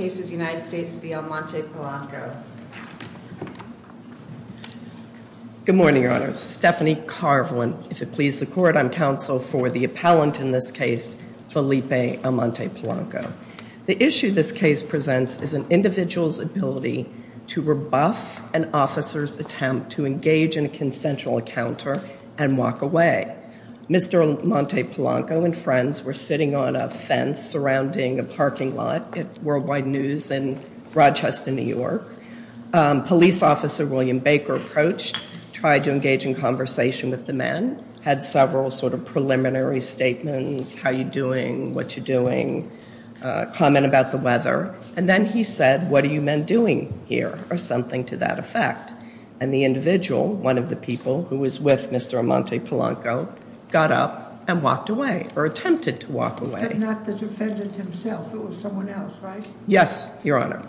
Good morning, Your Honor. Stephanie Carvelin. If it pleases the Court, I'm counsel for the appellant in this case, Felipe Almonte-Polanco. The issue this case presents is an individual's ability to rebuff an officer's attempt to engage in a consensual encounter and walk away. Mr. Almonte-Polanco and friends were sitting on a fence surrounding a parking lot at Worldwide News. In Rochester, New York, police officer William Baker approached, tried to engage in conversation with the men, had several sort of preliminary statements, how you're doing, what you're doing, comment about the weather. And then he said, what are you men doing here, or something to that effect. And the individual, one of the people who was with Mr. Almonte-Polanco, got up and walked away, or attempted to walk away. But not the defendant himself, it was someone else, right? Yes, Your Honor.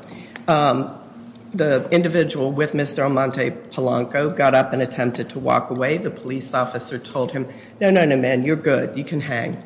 The individual with Mr. Almonte-Polanco got up and attempted to walk away. The police officer told him, no, no, no, man, you're good, you can hang.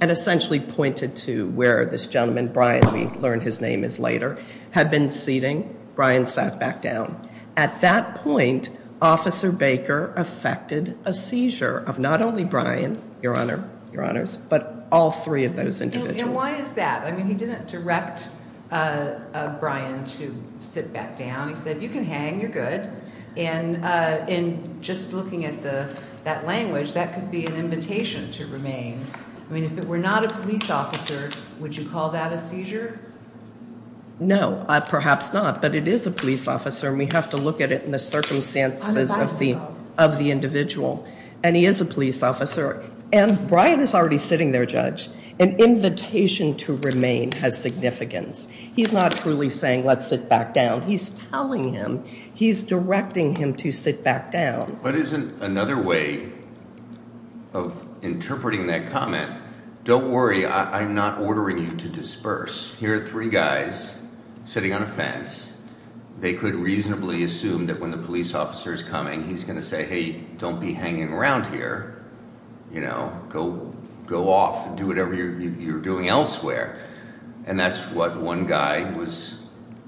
And essentially pointed to where this gentleman, Brian, we learned his name is later, had been seating. Brian sat back down. At that point, Officer Baker effected a seizure of not only Brian, Your Honor, Your Honors, but all three of those individuals. And why is that? I mean, he didn't direct Brian to sit back down. He said, you can hang, you're good. And just looking at that language, that could be an invitation to remain. I mean, if it were not a police officer, would you call that a seizure? No, perhaps not. But it is a police officer, and we have to look at it in the circumstances of the individual. And he is a police officer. And Brian is already sitting there, Judge. An invitation to remain has significance. He's not truly saying, let's sit back down. He's telling him, he's directing him to sit back down. But isn't another way of interpreting that comment, don't worry, I'm not ordering you to disperse. Here are three guys sitting on a fence. They could reasonably assume that when the police officer is coming, he's going to say, hey, don't be hanging around here. You know, go off and do whatever you're doing elsewhere. And that's what one guy was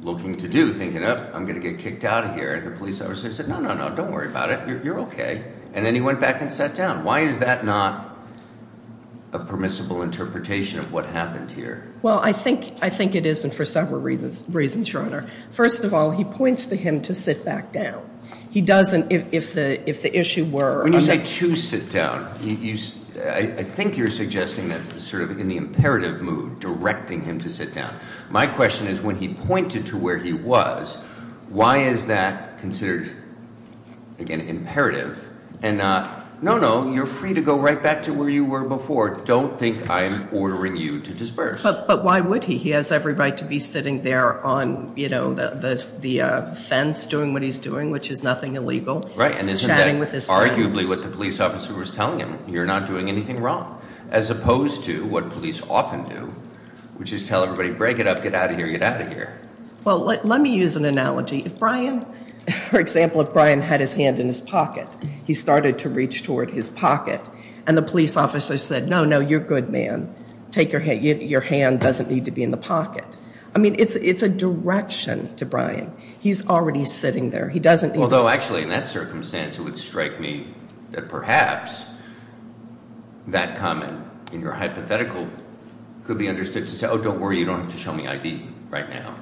looking to do, thinking, oh, I'm going to get kicked out of here. And the police officer said, no, no, no, don't worry about it. You're okay. And then he went back and sat down. Why is that not a permissible interpretation of what happened here? Well, I think it is, and for several reasons, Your Honor. First of all, he points to him to sit back down. He doesn't, if the issue were. When you say to sit down, I think you're suggesting that sort of in the imperative mood, directing him to sit down. My question is, when he pointed to where he was, why is that considered, again, imperative? And no, no, you're free to go right back to where you were before. Don't think I'm ordering you to disperse. But why would he? He has every right to be sitting there on the fence doing what he's doing, which is nothing illegal. Right, and isn't that arguably what the police officer was telling him? You're not doing anything wrong. As opposed to what police often do, which is tell everybody, break it up, get out of here, get out of here. Well, let me use an analogy. If Brian, for example, if Brian had his hand in his pocket, he started to reach toward his pocket. And the police officer said, no, no, you're good, man. Take your hand. Your hand doesn't need to be in the pocket. I mean, it's a direction to Brian. He's already sitting there. Although, actually, in that circumstance, it would strike me that perhaps that comment in your hypothetical could be understood to say, oh, don't worry, you don't have to show me ID right now.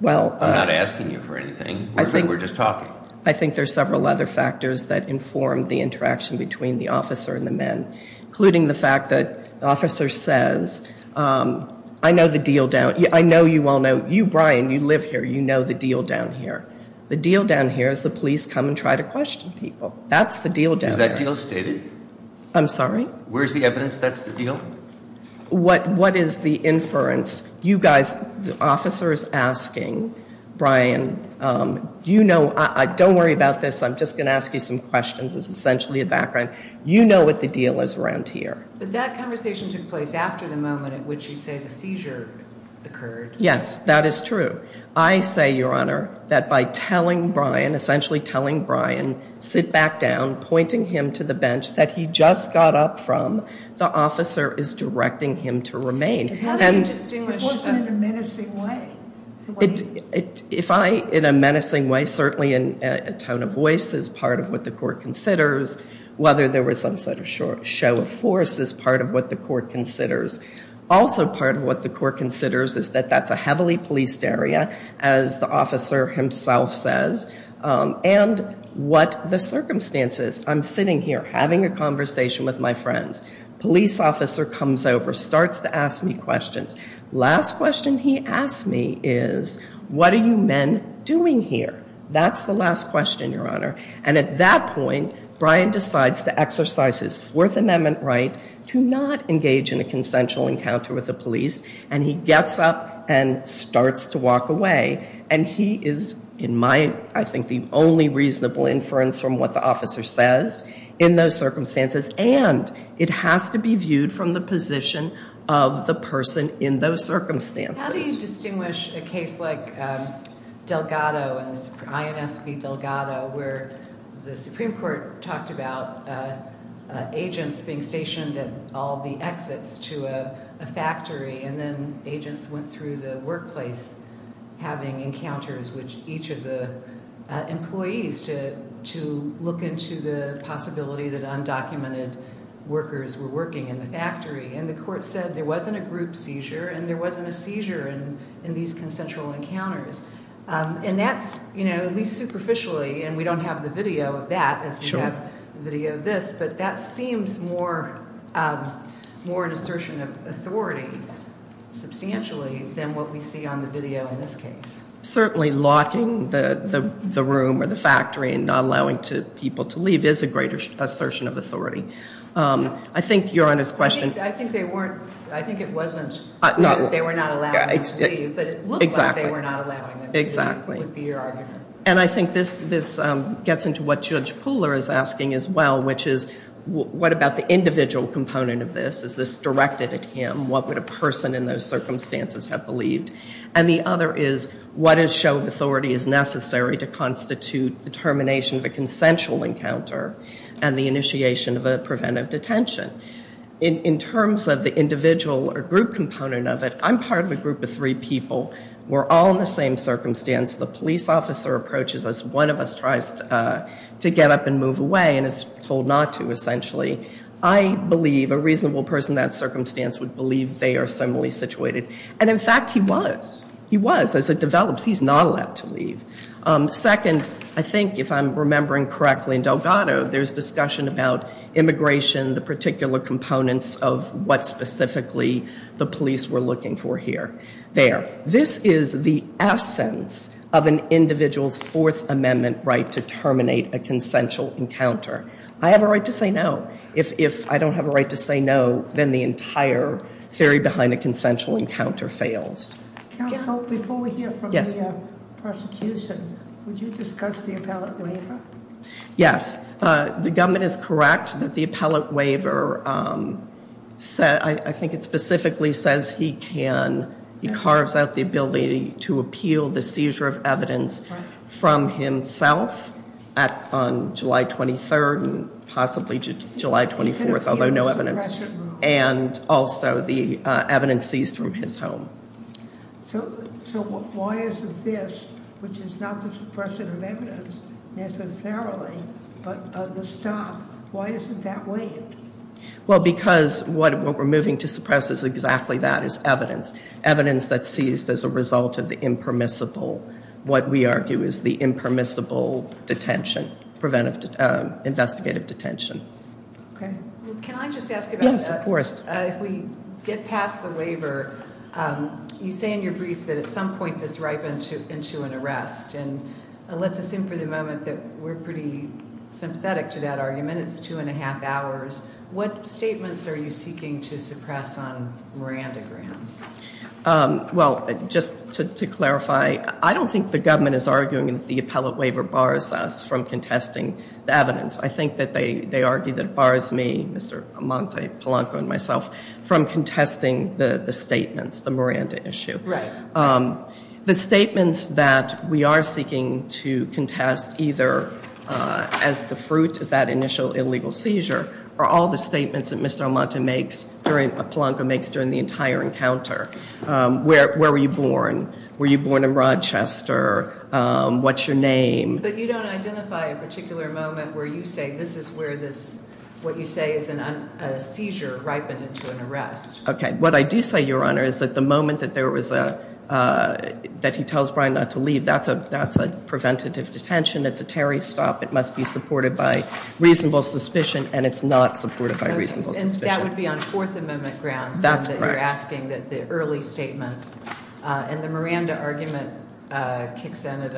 I'm not asking you for anything. We're just talking. I think there's several other factors that inform the interaction between the officer and the men, including the fact that the officer says, I know the deal down. I know you all know. You, Brian, you live here. You know the deal down here. The deal down here is the police come and try to question people. That's the deal down there. Is that deal stated? I'm sorry? Where's the evidence that's the deal? What is the inference? You guys, the officer is asking, Brian, you know, don't worry about this. I'm just going to ask you some questions. It's essentially a background. You know what the deal is around here. But that conversation took place after the moment at which you say the seizure occurred. Yes, that is true. I say, Your Honor, that by telling Brian, essentially telling Brian, sit back down, pointing him to the bench that he just got up from, the officer is directing him to remain. That's an interesting question. It wasn't in a menacing way. If I, in a menacing way, certainly in a tone of voice is part of what the court considers, whether there was some sort of show of force is part of what the court considers. Also part of what the court considers is that that's a heavily policed area, as the officer himself says, and what the circumstances. I'm sitting here having a conversation with my friends. Police officer comes over, starts to ask me questions. Last question he asked me is, what are you men doing here? That's the last question, Your Honor. And at that point, Brian decides to exercise his Fourth Amendment right to not engage in a consensual encounter with the police. And he gets up and starts to walk away. And he is, in my, I think, the only reasonable inference from what the officer says in those circumstances. And it has to be viewed from the position of the person in those circumstances. How do you distinguish a case like Delgado, INS v. Delgado, where the Supreme Court talked about agents being stationed at all the exits to a factory and then agents went through the workplace having encounters with each of the employees to look into the possibility that undocumented workers were working in the factory? And the court said there wasn't a group seizure and there wasn't a seizure in these consensual encounters. And that's, you know, at least superficially, and we don't have the video of that as we have the video of this, but that seems more an assertion of authority substantially than what we see on the video in this case. Certainly locking the room or the factory and not allowing people to leave is a greater assertion of authority. I think Your Honor's question- I think they weren't, I think it wasn't that they were not allowing them to leave, but it looked like they were not allowing them to leave, would be your argument. And I think this gets into what Judge Puller is asking as well, which is what about the individual component of this? Is this directed at him? What would a person in those circumstances have believed? And the other is what a show of authority is necessary to constitute the termination of a consensual encounter and the initiation of a preventive detention. In terms of the individual or group component of it, I'm part of a group of three people. We're all in the same circumstance. The police officer approaches us. One of us tries to get up and move away and is told not to, essentially. I believe a reasonable person in that circumstance would believe they are similarly situated. And, in fact, he was. He was as it develops. He's not allowed to leave. Second, I think if I'm remembering correctly, in Delgado there's discussion about immigration, the particular components of what specifically the police were looking for here. There. This is the essence of an individual's Fourth Amendment right to terminate a consensual encounter. I have a right to say no. If I don't have a right to say no, then the entire theory behind a consensual encounter fails. Counsel, before we hear from the prosecution, would you discuss the appellate waiver? Yes. The government is correct that the appellate waiver, I think it specifically says he can, he carves out the ability to appeal the seizure of evidence from himself on July 23rd and possibly July 24th, although no evidence. And also the evidence seized from his home. So why isn't this, which is not the suppression of evidence necessarily, but the stop, why isn't that waived? Well, because what we're moving to suppress is exactly that, is evidence. Evidence that's seized as a result of the impermissible, what we argue is the impermissible detention, preventive investigative detention. Okay. Can I just ask about that? Yes, of course. If we get past the waiver, you say in your brief that at some point this ripens into an arrest. And let's assume for the moment that we're pretty sympathetic to that argument. It's two and a half hours. What statements are you seeking to suppress on Miranda grounds? Well, just to clarify, I don't think the government is arguing that the appellate waiver bars us from contesting the evidence. I think that they argue that it bars me, Mr. Amante, Polanco, and myself from contesting the statements, the Miranda issue. Right. The statements that we are seeking to contest either as the fruit of that initial illegal seizure are all the statements that Mr. Amante makes during, Polanco makes during the entire encounter. Where were you born? Were you born in Rochester? What's your name? But you don't identify a particular moment where you say this is where this, what you say is a seizure ripened into an arrest. Okay. What I do say, Your Honor, is that the moment that there was a, that he tells Brian not to leave, that's a preventative detention. It's a Terry stop. It must be supported by reasonable suspicion, and it's not supported by reasonable suspicion. Okay. And that would be on Fourth Amendment grounds. That's correct. You're asking that the early statements, and the Miranda argument kicks in at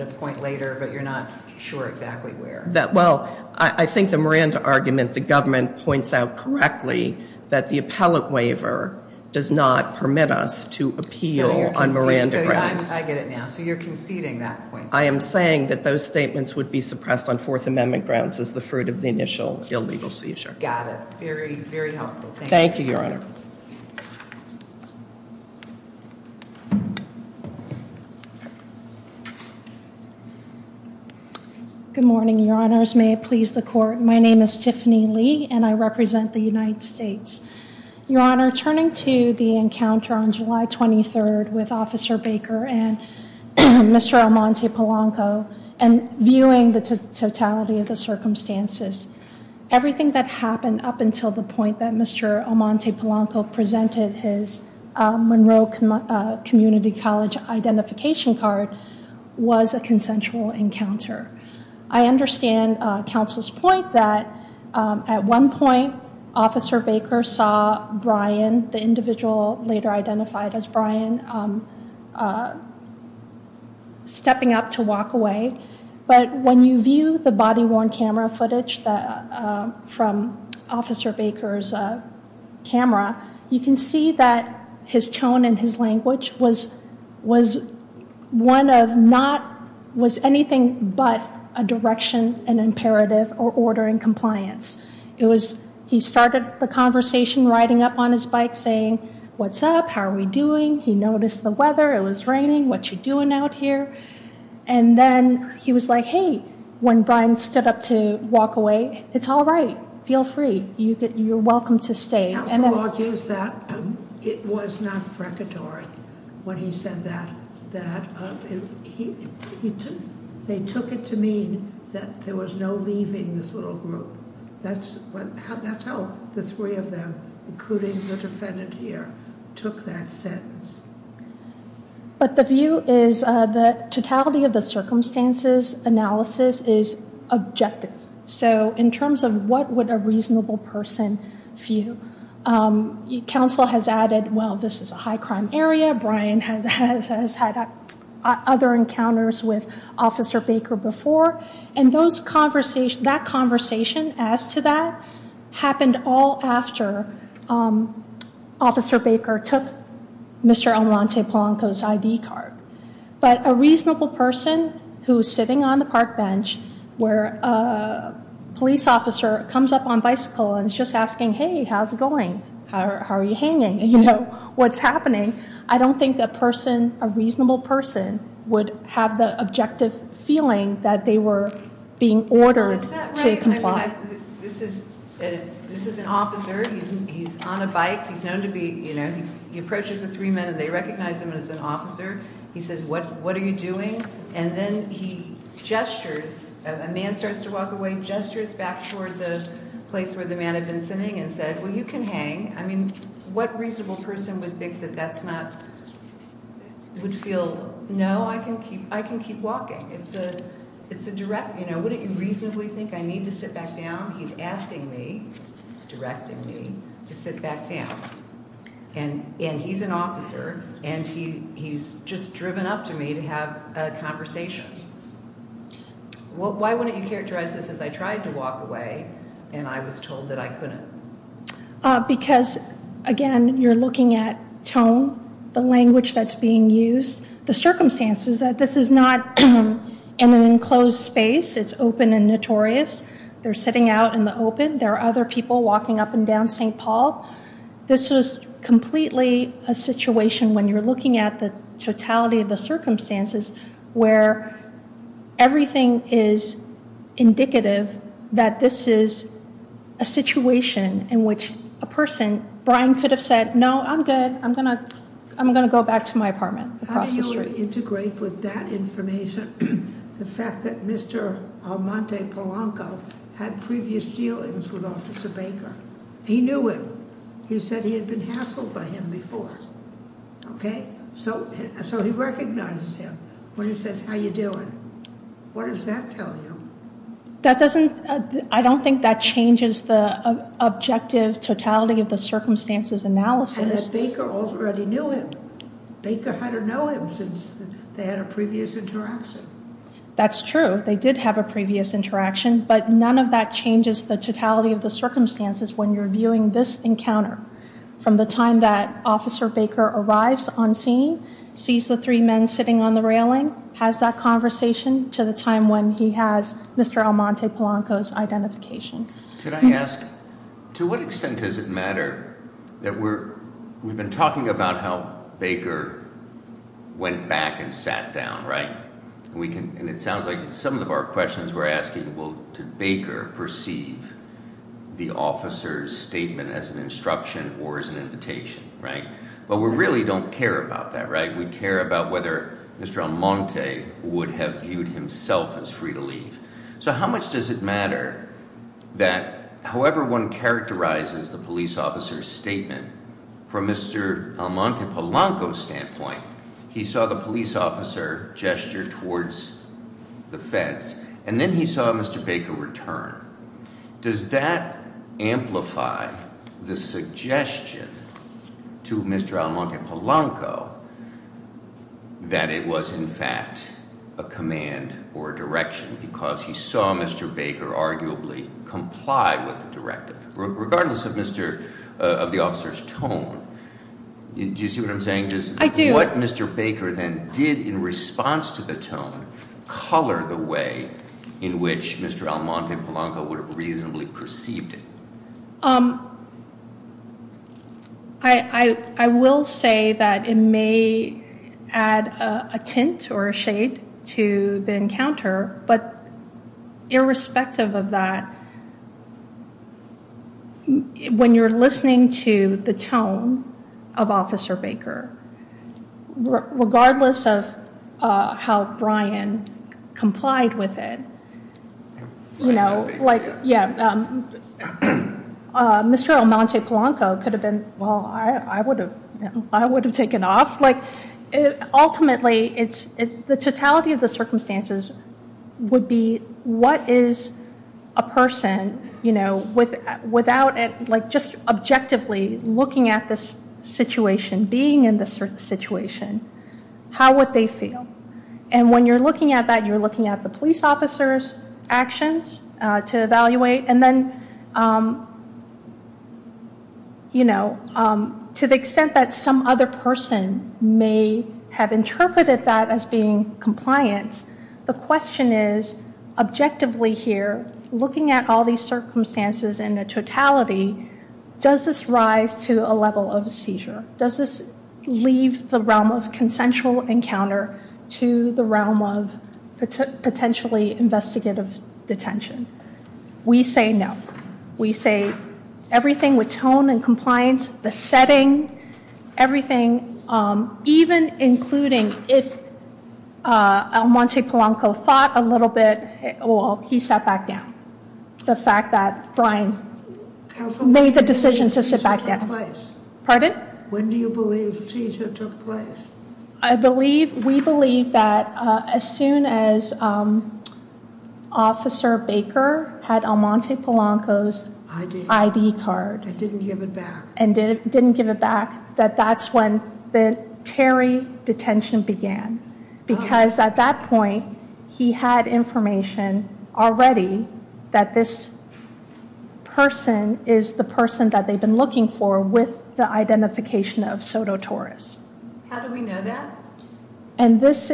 a point later, but you're not sure exactly where. Well, I think the Miranda argument, the government points out correctly that the appellate waiver does not permit us to appeal on Miranda grounds. I get it now. So you're conceding that point. I am saying that those statements would be suppressed on Fourth Amendment grounds as the fruit of the initial illegal seizure. Got it. Very, very helpful. Thank you, Your Honor. Good morning, Your Honors. May it please the Court. My name is Tiffany Lee, and I represent the United States. Your Honor, turning to the encounter on July 23rd with Officer Baker and Mr. Armante Polanco, and viewing the totality of the circumstances, everything that happened up until the point that Mr. Armante Polanco presented his Monroe Community College identification card was a consensual encounter. I understand counsel's point that at one point, Officer Baker saw Brian, the individual later identified as Brian, stepping up to walk away. But when you view the body-worn camera footage from Officer Baker's camera, you can see that his tone and his language was anything but a direction, an imperative, or ordering compliance. He started the conversation riding up on his bike saying, what's up? How are we doing? He noticed the weather. It was raining. What you doing out here? And then he was like, hey. When Brian stood up to walk away, it's all right. Feel free. You're welcome to stay. Counsel argues that it was not precatory when he said that. They took it to mean that there was no leaving this little group. That's how the three of them, including the defendant here, took that sentence. But the view is the totality of the circumstances analysis is objective. So in terms of what would a reasonable person view, counsel has added, well, this is a high crime area. Brian has had other encounters with Officer Baker before. And that conversation, as to that, happened all after Officer Baker took Mr. Almonte Polanco's ID card. But a reasonable person who's sitting on the park bench where a police officer comes up on bicycle and is just asking, hey, how's it going? How are you hanging? You know, what's happening? I don't think that person, a reasonable person, would have the objective feeling that they were being ordered to comply. This is an officer. He's on a bike. He's known to be, you know, he approaches the three men and they recognize him as an officer. He says, what are you doing? And then he gestures. A man starts to walk away, gestures back toward the place where the man had been sitting and said, well, you can hang. I mean, what reasonable person would think that that's not, would feel, no, I can keep walking. It's a direct, you know, wouldn't you reasonably think I need to sit back down? He's asking me, directing me, to sit back down. And he's an officer and he's just driven up to me to have a conversation. Why wouldn't you characterize this as I tried to walk away and I was told that I couldn't? Because, again, you're looking at tone, the language that's being used, the circumstances that this is not in an enclosed space. It's open and notorious. They're sitting out in the open. There are other people walking up and down St. Paul. This is completely a situation when you're looking at the totality of the circumstances where everything is indicative that this is a situation in which a person, Brian could have said, no, I'm good, I'm going to go back to my apartment across the street. How do you integrate with that information the fact that Mr. Almonte Polanco had previous dealings with Officer Baker? He knew him. He said he had been hassled by him before. Okay. So he recognizes him when he says, how you doing? What does that tell you? That doesn't, I don't think that changes the objective totality of the circumstances analysis. And that Baker already knew him. Baker had to know him since they had a previous interaction. That's true. They did have a previous interaction, but none of that changes the totality of the circumstances when you're viewing this encounter. From the time that Officer Baker arrives on scene, sees the three men sitting on the railing, has that conversation, to the time when he has Mr. Almonte Polanco's identification. Could I ask, to what extent does it matter that we're, we've been talking about how Baker went back and sat down, right? And it sounds like some of our questions we're asking, well, did Baker perceive the officer's statement as an instruction or as an invitation, right? But we really don't care about that, right? We care about whether Mr. Almonte would have viewed himself as free to leave. So how much does it matter that however one characterizes the police officer's statement, from Mr. Almonte Polanco's standpoint, he saw the police officer gesture towards the fence, and then he saw Mr. Baker return. Does that amplify the suggestion to Mr. Almonte Polanco that it was in fact a command or a direction because he saw Mr. Baker arguably comply with the directive. Regardless of the officer's tone, do you see what I'm saying? I do. What Mr. Baker then did in response to the tone, color the way in which Mr. Almonte Polanco would have reasonably perceived it. I will say that it may add a tint or a shade to the encounter, but irrespective of that, when you're listening to the tone of Officer Baker, regardless of how Brian complied with it, Mr. Almonte Polanco could have been, well, I would have taken off. Ultimately, the totality of the circumstances would be, what is a person without just objectively looking at this situation, being in this situation, how would they feel? When you're looking at that, you're looking at the police officer's actions to evaluate. To the extent that some other person may have objectively here, looking at all these circumstances in a totality, does this rise to a level of seizure? Does this leave the realm of consensual encounter to the realm of potentially investigative detention? We say no. We say everything with tone and compliance, the setting, everything, even including if Almonte Polanco thought a little bit, well, he sat back down. The fact that Brian made the decision to sit back down. When do you believe seizure took place? We believe that as soon as Officer Baker had Almonte Polanco's ID card and didn't give it back, that that's when the Terry detention began, because at that point he had information already that this person is the person that they've been looking for with the identification of Soto Torres. How do we know that? This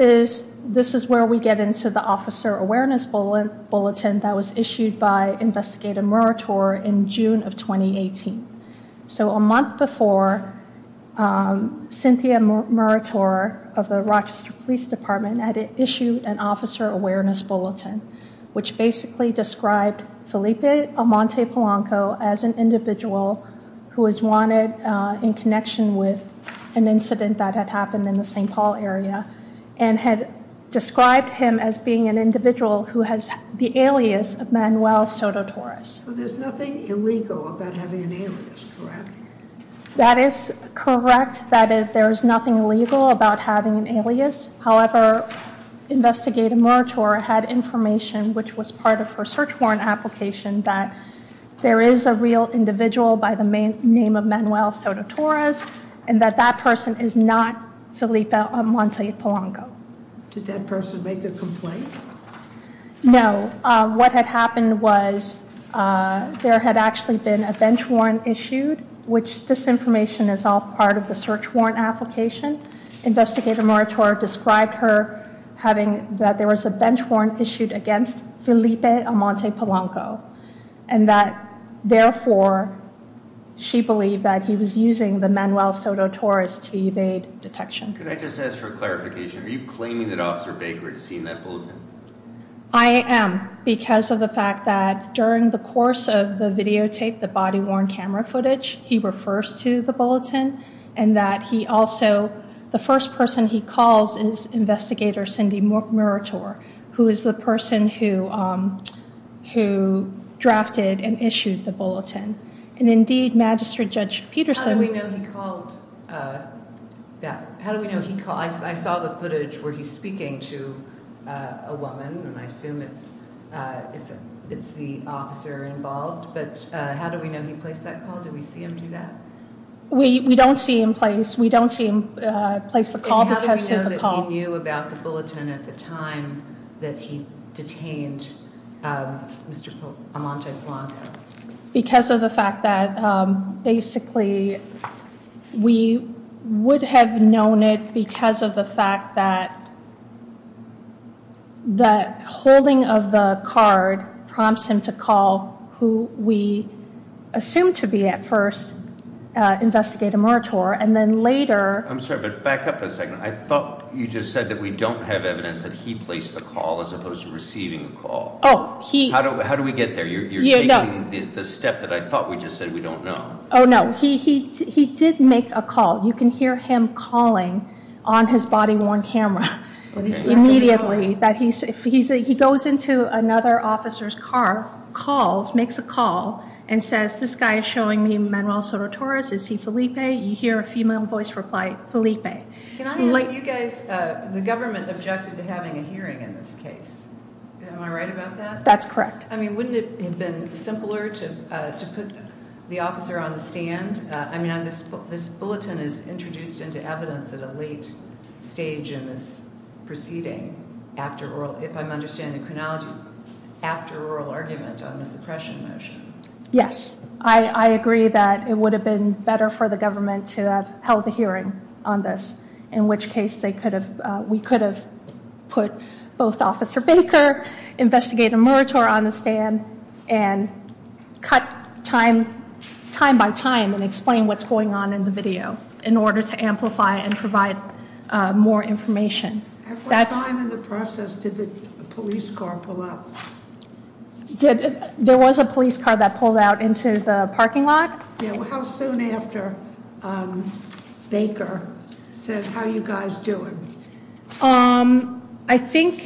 is where we get into the Officer Awareness Bulletin that was issued by Cynthia Murator of the Rochester Police Department. It issued an Officer Awareness Bulletin, which basically described Felipe Almonte Polanco as an individual who is wanted in connection with an incident that had happened in the St. Paul area and had described him as being an individual who has the alias of Manuel Soto Torres. So there's nothing illegal about having an alias, correct? That is correct, that there is nothing illegal about having an alias. However, Investigator Murator had information, which was part of her search warrant application, that there is a real individual by the name of Manuel Soto Torres and that that person is not Felipe Almonte Polanco. Did that person make a complaint? No. What had happened was there had actually been a bench warrant issued, which this information is all part of the search warrant application. Investigator Murator described her having that there was a bench warrant issued against Felipe Almonte Polanco and that therefore she believed that he was I am because of the fact that during the course of the videotape, the body worn camera footage, he refers to the bulletin and that he also the first person he calls is Investigator Cindy Murator, who is the person who drafted and issued the bulletin. And indeed, Magistrate Judge Peterson How do we know he called that? How do we know he called? I saw the footage where he's speaking to a woman and I assume it's the officer involved. But how do we know he placed that call? Do we see him do that? We don't see in place. We don't see him place the call. How do we know that he knew about the bulletin at the time that he detained Mr. The fact that basically we would have known it because of the fact that holding of the card prompts him to call who we assumed to be at first Investigator Murator and then later back up a second. I thought you just said that we don't have evidence that he placed the call as opposed to receiving a call. How do we get there? You're taking the step that I thought we just said we don't know. Oh, no, he did make a call. You can hear him calling on his body worn camera immediately that he goes into another officer's car, calls, makes a call and says this guy is showing me Manuel Soto Torres. Is he Felipe? You hear a female voice reply, Felipe. Like you guys, the government objected to having a hearing in this case. Am I right about that? That's correct. I mean, wouldn't it have been simpler to put the officer on the stand? I mean, this this bulletin is introduced into evidence at a late stage in this proceeding. After all, if I'm understanding chronology after oral argument on the suppression motion. Yes, I could have put both officer Baker investigator Murator on the stand and cut time time by time and explain what's going on in the video in order to amplify and provide more information. That's time in the process to the police car pull up. There was a police car that pulled out into the I think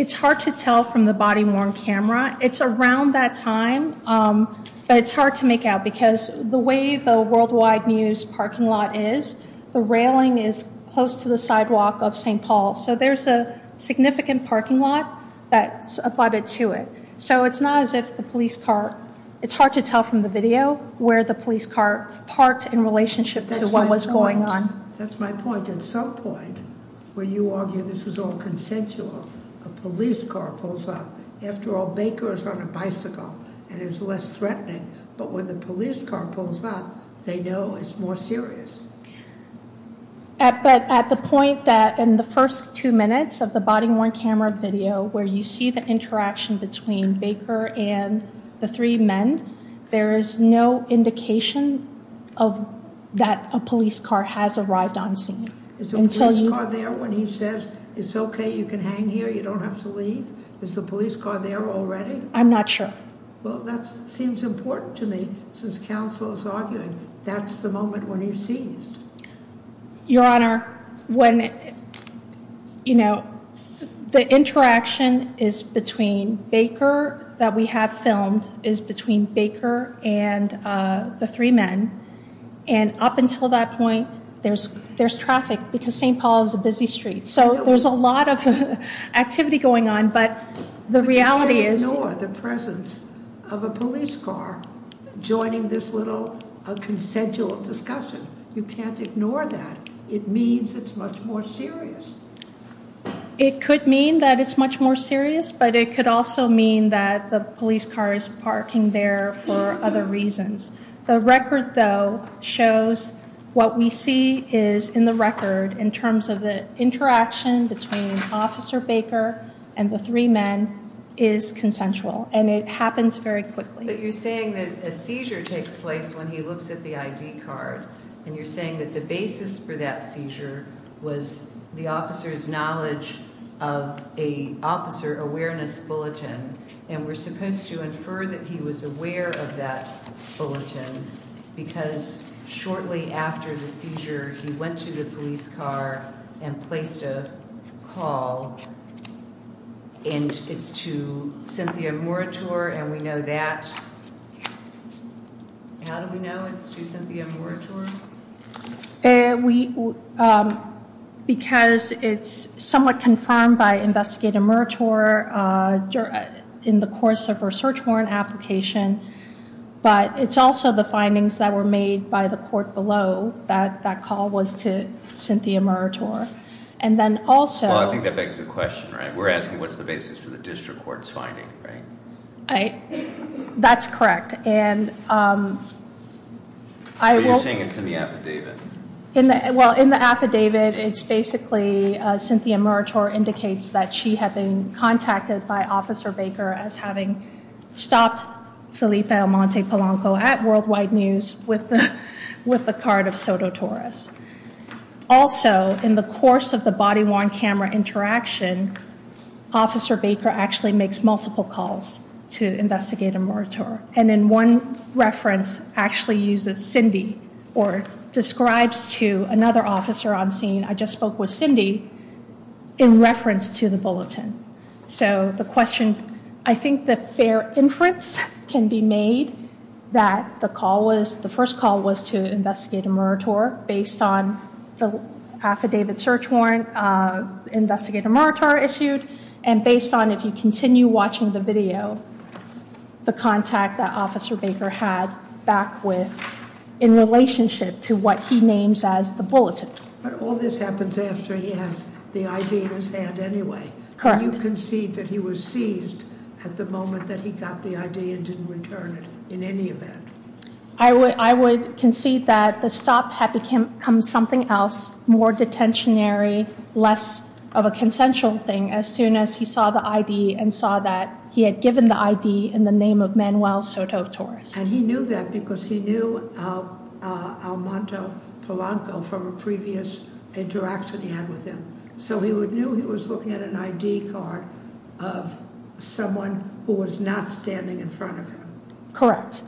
it's hard to tell from the body worn camera. It's around that time, but it's hard to make out because the way the worldwide news parking lot is the railing is close to the sidewalk of ST Paul. So there's a significant parking lot that's about it to it. So it's not as if the police car it's hard to tell from the video where the police car parked in relationship to what was going on. That's my point. At some point where you argue this is all consensual, a police car pulls up after all, Baker is on a bicycle and is less threatening. But when the police car pulls up, they know it's more serious at the point that in the first two minutes of the body worn camera video where you see the indication of that a police car has arrived on scene there when he says it's okay, you can hang here. You don't have to leave. Is the police car there already? I'm not sure. Well, that seems important to me since counsel is arguing. That's the moment when he sees your honor when you know the interaction is between Baker that we have filmed is between Baker and the three men. And up until that point, there's there's traffic because ST Paul is a busy street. So there's a lot of activity going on. But the reality is the presence of a police car joining this little consensual discussion. You can't ignore that. It means it's much more serious, but it could also mean that the police car is parking there for other reasons. The record, though, shows what we see is in the record in terms of the interaction between Officer Baker and the three men is consensual, and it happens very quickly. But you're saying that a seizure takes place when he looks at the I. D. Card, and you're saying that the basis for that And we're supposed to infer that he was aware of that bulletin because shortly after the seizure, he went to the police car and placed a call. And it's to Cynthia Moore tour, and we know that How do we know it's to Cynthia Moore tour? And we because it's somewhat confirmed by investigative murder tour in the course of research for an application. But it's also the findings that were made by the court below that that call was to Cynthia murder tour. And then also, I think that begs the question, right? We're asking what's the basis for the district court's finding, right? That's correct. And I'm saying it's in the affidavit. Well, in the affidavit, it's basically Cynthia murder tour indicates that she had been contacted by Officer Baker as having stopped Felipe Amante Polanco at Worldwide News with the card of Soto Torres. Also, in the course of the body worn camera interaction, Officer Baker actually makes multiple calls to investigate a murder tour. And in one reference actually uses Cindy or describes to another officer on scene. I just spoke with Cindy in reference to the bulletin. So the question I think the fair inference can be made that the call was the first call was to investigate a murder tour based on the affidavit search warrant. Investigator March are issued and based on if you continue watching the video, the contact that Officer Baker had back with in relationship to what he names as the bulletin. But all this happens after he has the idea in his hand anyway. You can see that he was seized at the moment that he got the idea and didn't return it in any event. I would concede that the stop had become something else. More detentionary, less of a consensual thing. As soon as he saw the I.D. and saw that he had given the I.D. in the name of Manuel Soto Torres. And he knew that because he knew Almonto Polanco from a previous interaction he had with him. So he would knew he was looking at an I.D. card of someone who was not standing in front of him. Correct.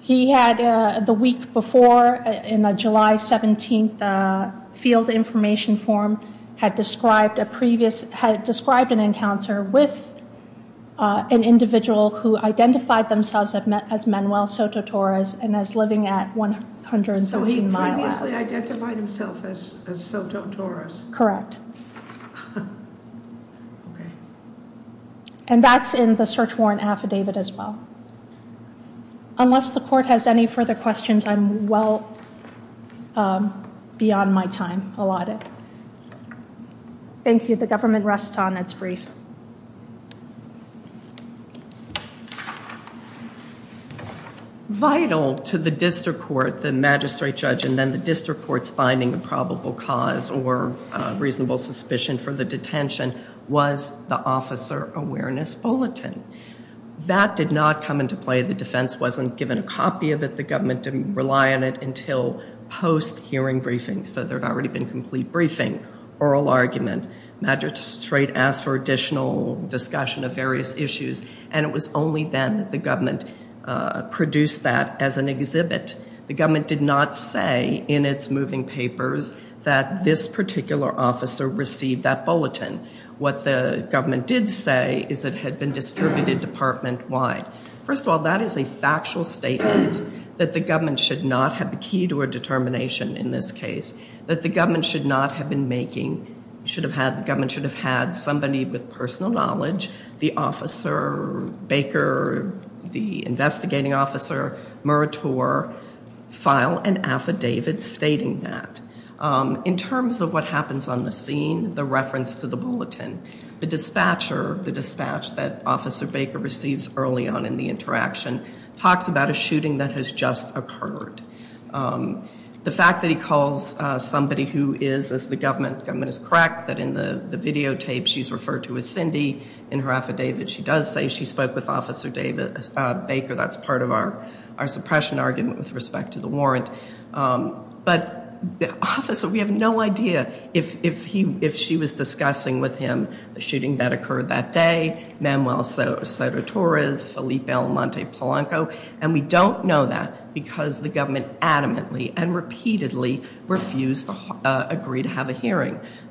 He had the week before in a July 17th field information form had described a previous had described an encounter with an individual who identified themselves as Manuel Soto Torres and as living at 113 Mile. Previously identified himself as Soto Torres. Correct. And that's in the search warrant affidavit as well. Unless the court has any further questions, I'm well beyond my time. I'll audit. Thank you. The government rests on its brief. Vital to the district court, the magistrate judge and then the district courts finding a probable cause or reasonable suspicion for the detention was the officer awareness bulletin. That did not come into play. The defense wasn't given a copy of it. The government didn't rely on it until post hearing briefing. So it was only then the government produced that as an exhibit. The government did not say in its moving papers that this particular officer received that bulletin. What the government did say is it had been distributed department wide. First of all, that is a factual statement that the government should not have the key to a determination in this case. That the government should not have been making, the government should have had somebody with personal knowledge, the officer, Baker, the investigating officer, Murator, file an affidavit stating that. In terms of what happens on the scene, the reference to the bulletin, the dispatcher, the dispatch that officer Baker receives early on in the interaction talks about a shooting that has just occurred. The fact that he calls somebody who is, as the government is correct, that in the videotape she's referred to as Cindy. In her affidavit she does say she spoke with officer Baker. That's part of our suppression argument with respect to the warrant. But the officer, we have no idea if she was discussing with him the hearing. The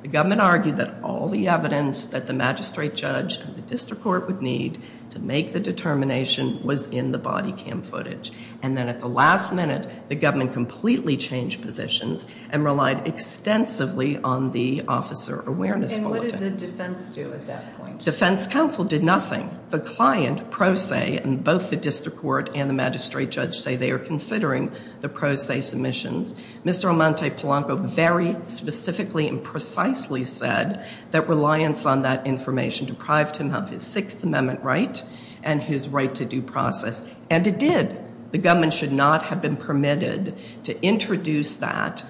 government argued that all the evidence that the magistrate judge and the district court would need to make the determination was in the body cam footage. And then at the last minute the government completely changed positions and relied extensively on the officer awareness bulletin. And what did the defense do at that point? Defense counsel did nothing. The client, Pro Se, and both the district court and the magistrate judge say they are considering the Pro Se submissions. Mr. Amante Polanco very specifically and precisely said that reliance on that information deprived him of his Sixth Amendment right and his right to due process. And it did. The government should not have been permitted to introduce that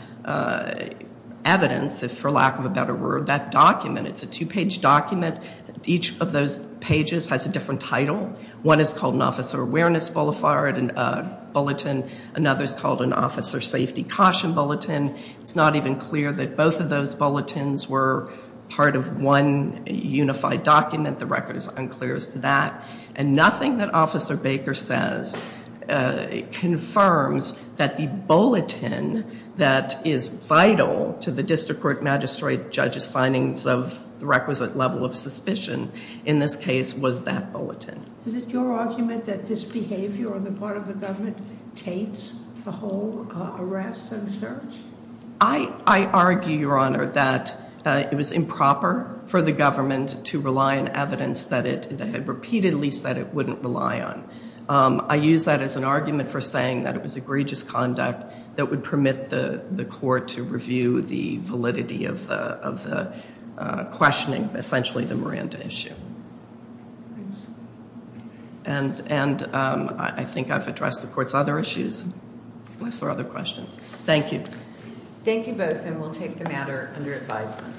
evidence, if for lack of a better word, that One is called an officer awareness bulletin. Another is called an officer safety caution bulletin. It's not even clear that both of those bulletins were part of one unified document. The record is unclear as to that. And nothing that officer Baker says confirms that the bulletin that is vital to the district court magistrate judge's findings of the requisite level of suspicion in this case was that bulletin. Is it your argument that this behavior on the part of the government taints the whole arrest and search? I argue, Your Honor, that it was improper for the government to rely on evidence that it had repeatedly said it wouldn't rely on. I use that as an argument for saying that it was egregious conduct that would permit the court to review the validity of the questioning, essentially the Miranda issue. And I think I've addressed the court's other issues unless there are other questions. Thank you. Thank you both and we'll take the matter under advisement.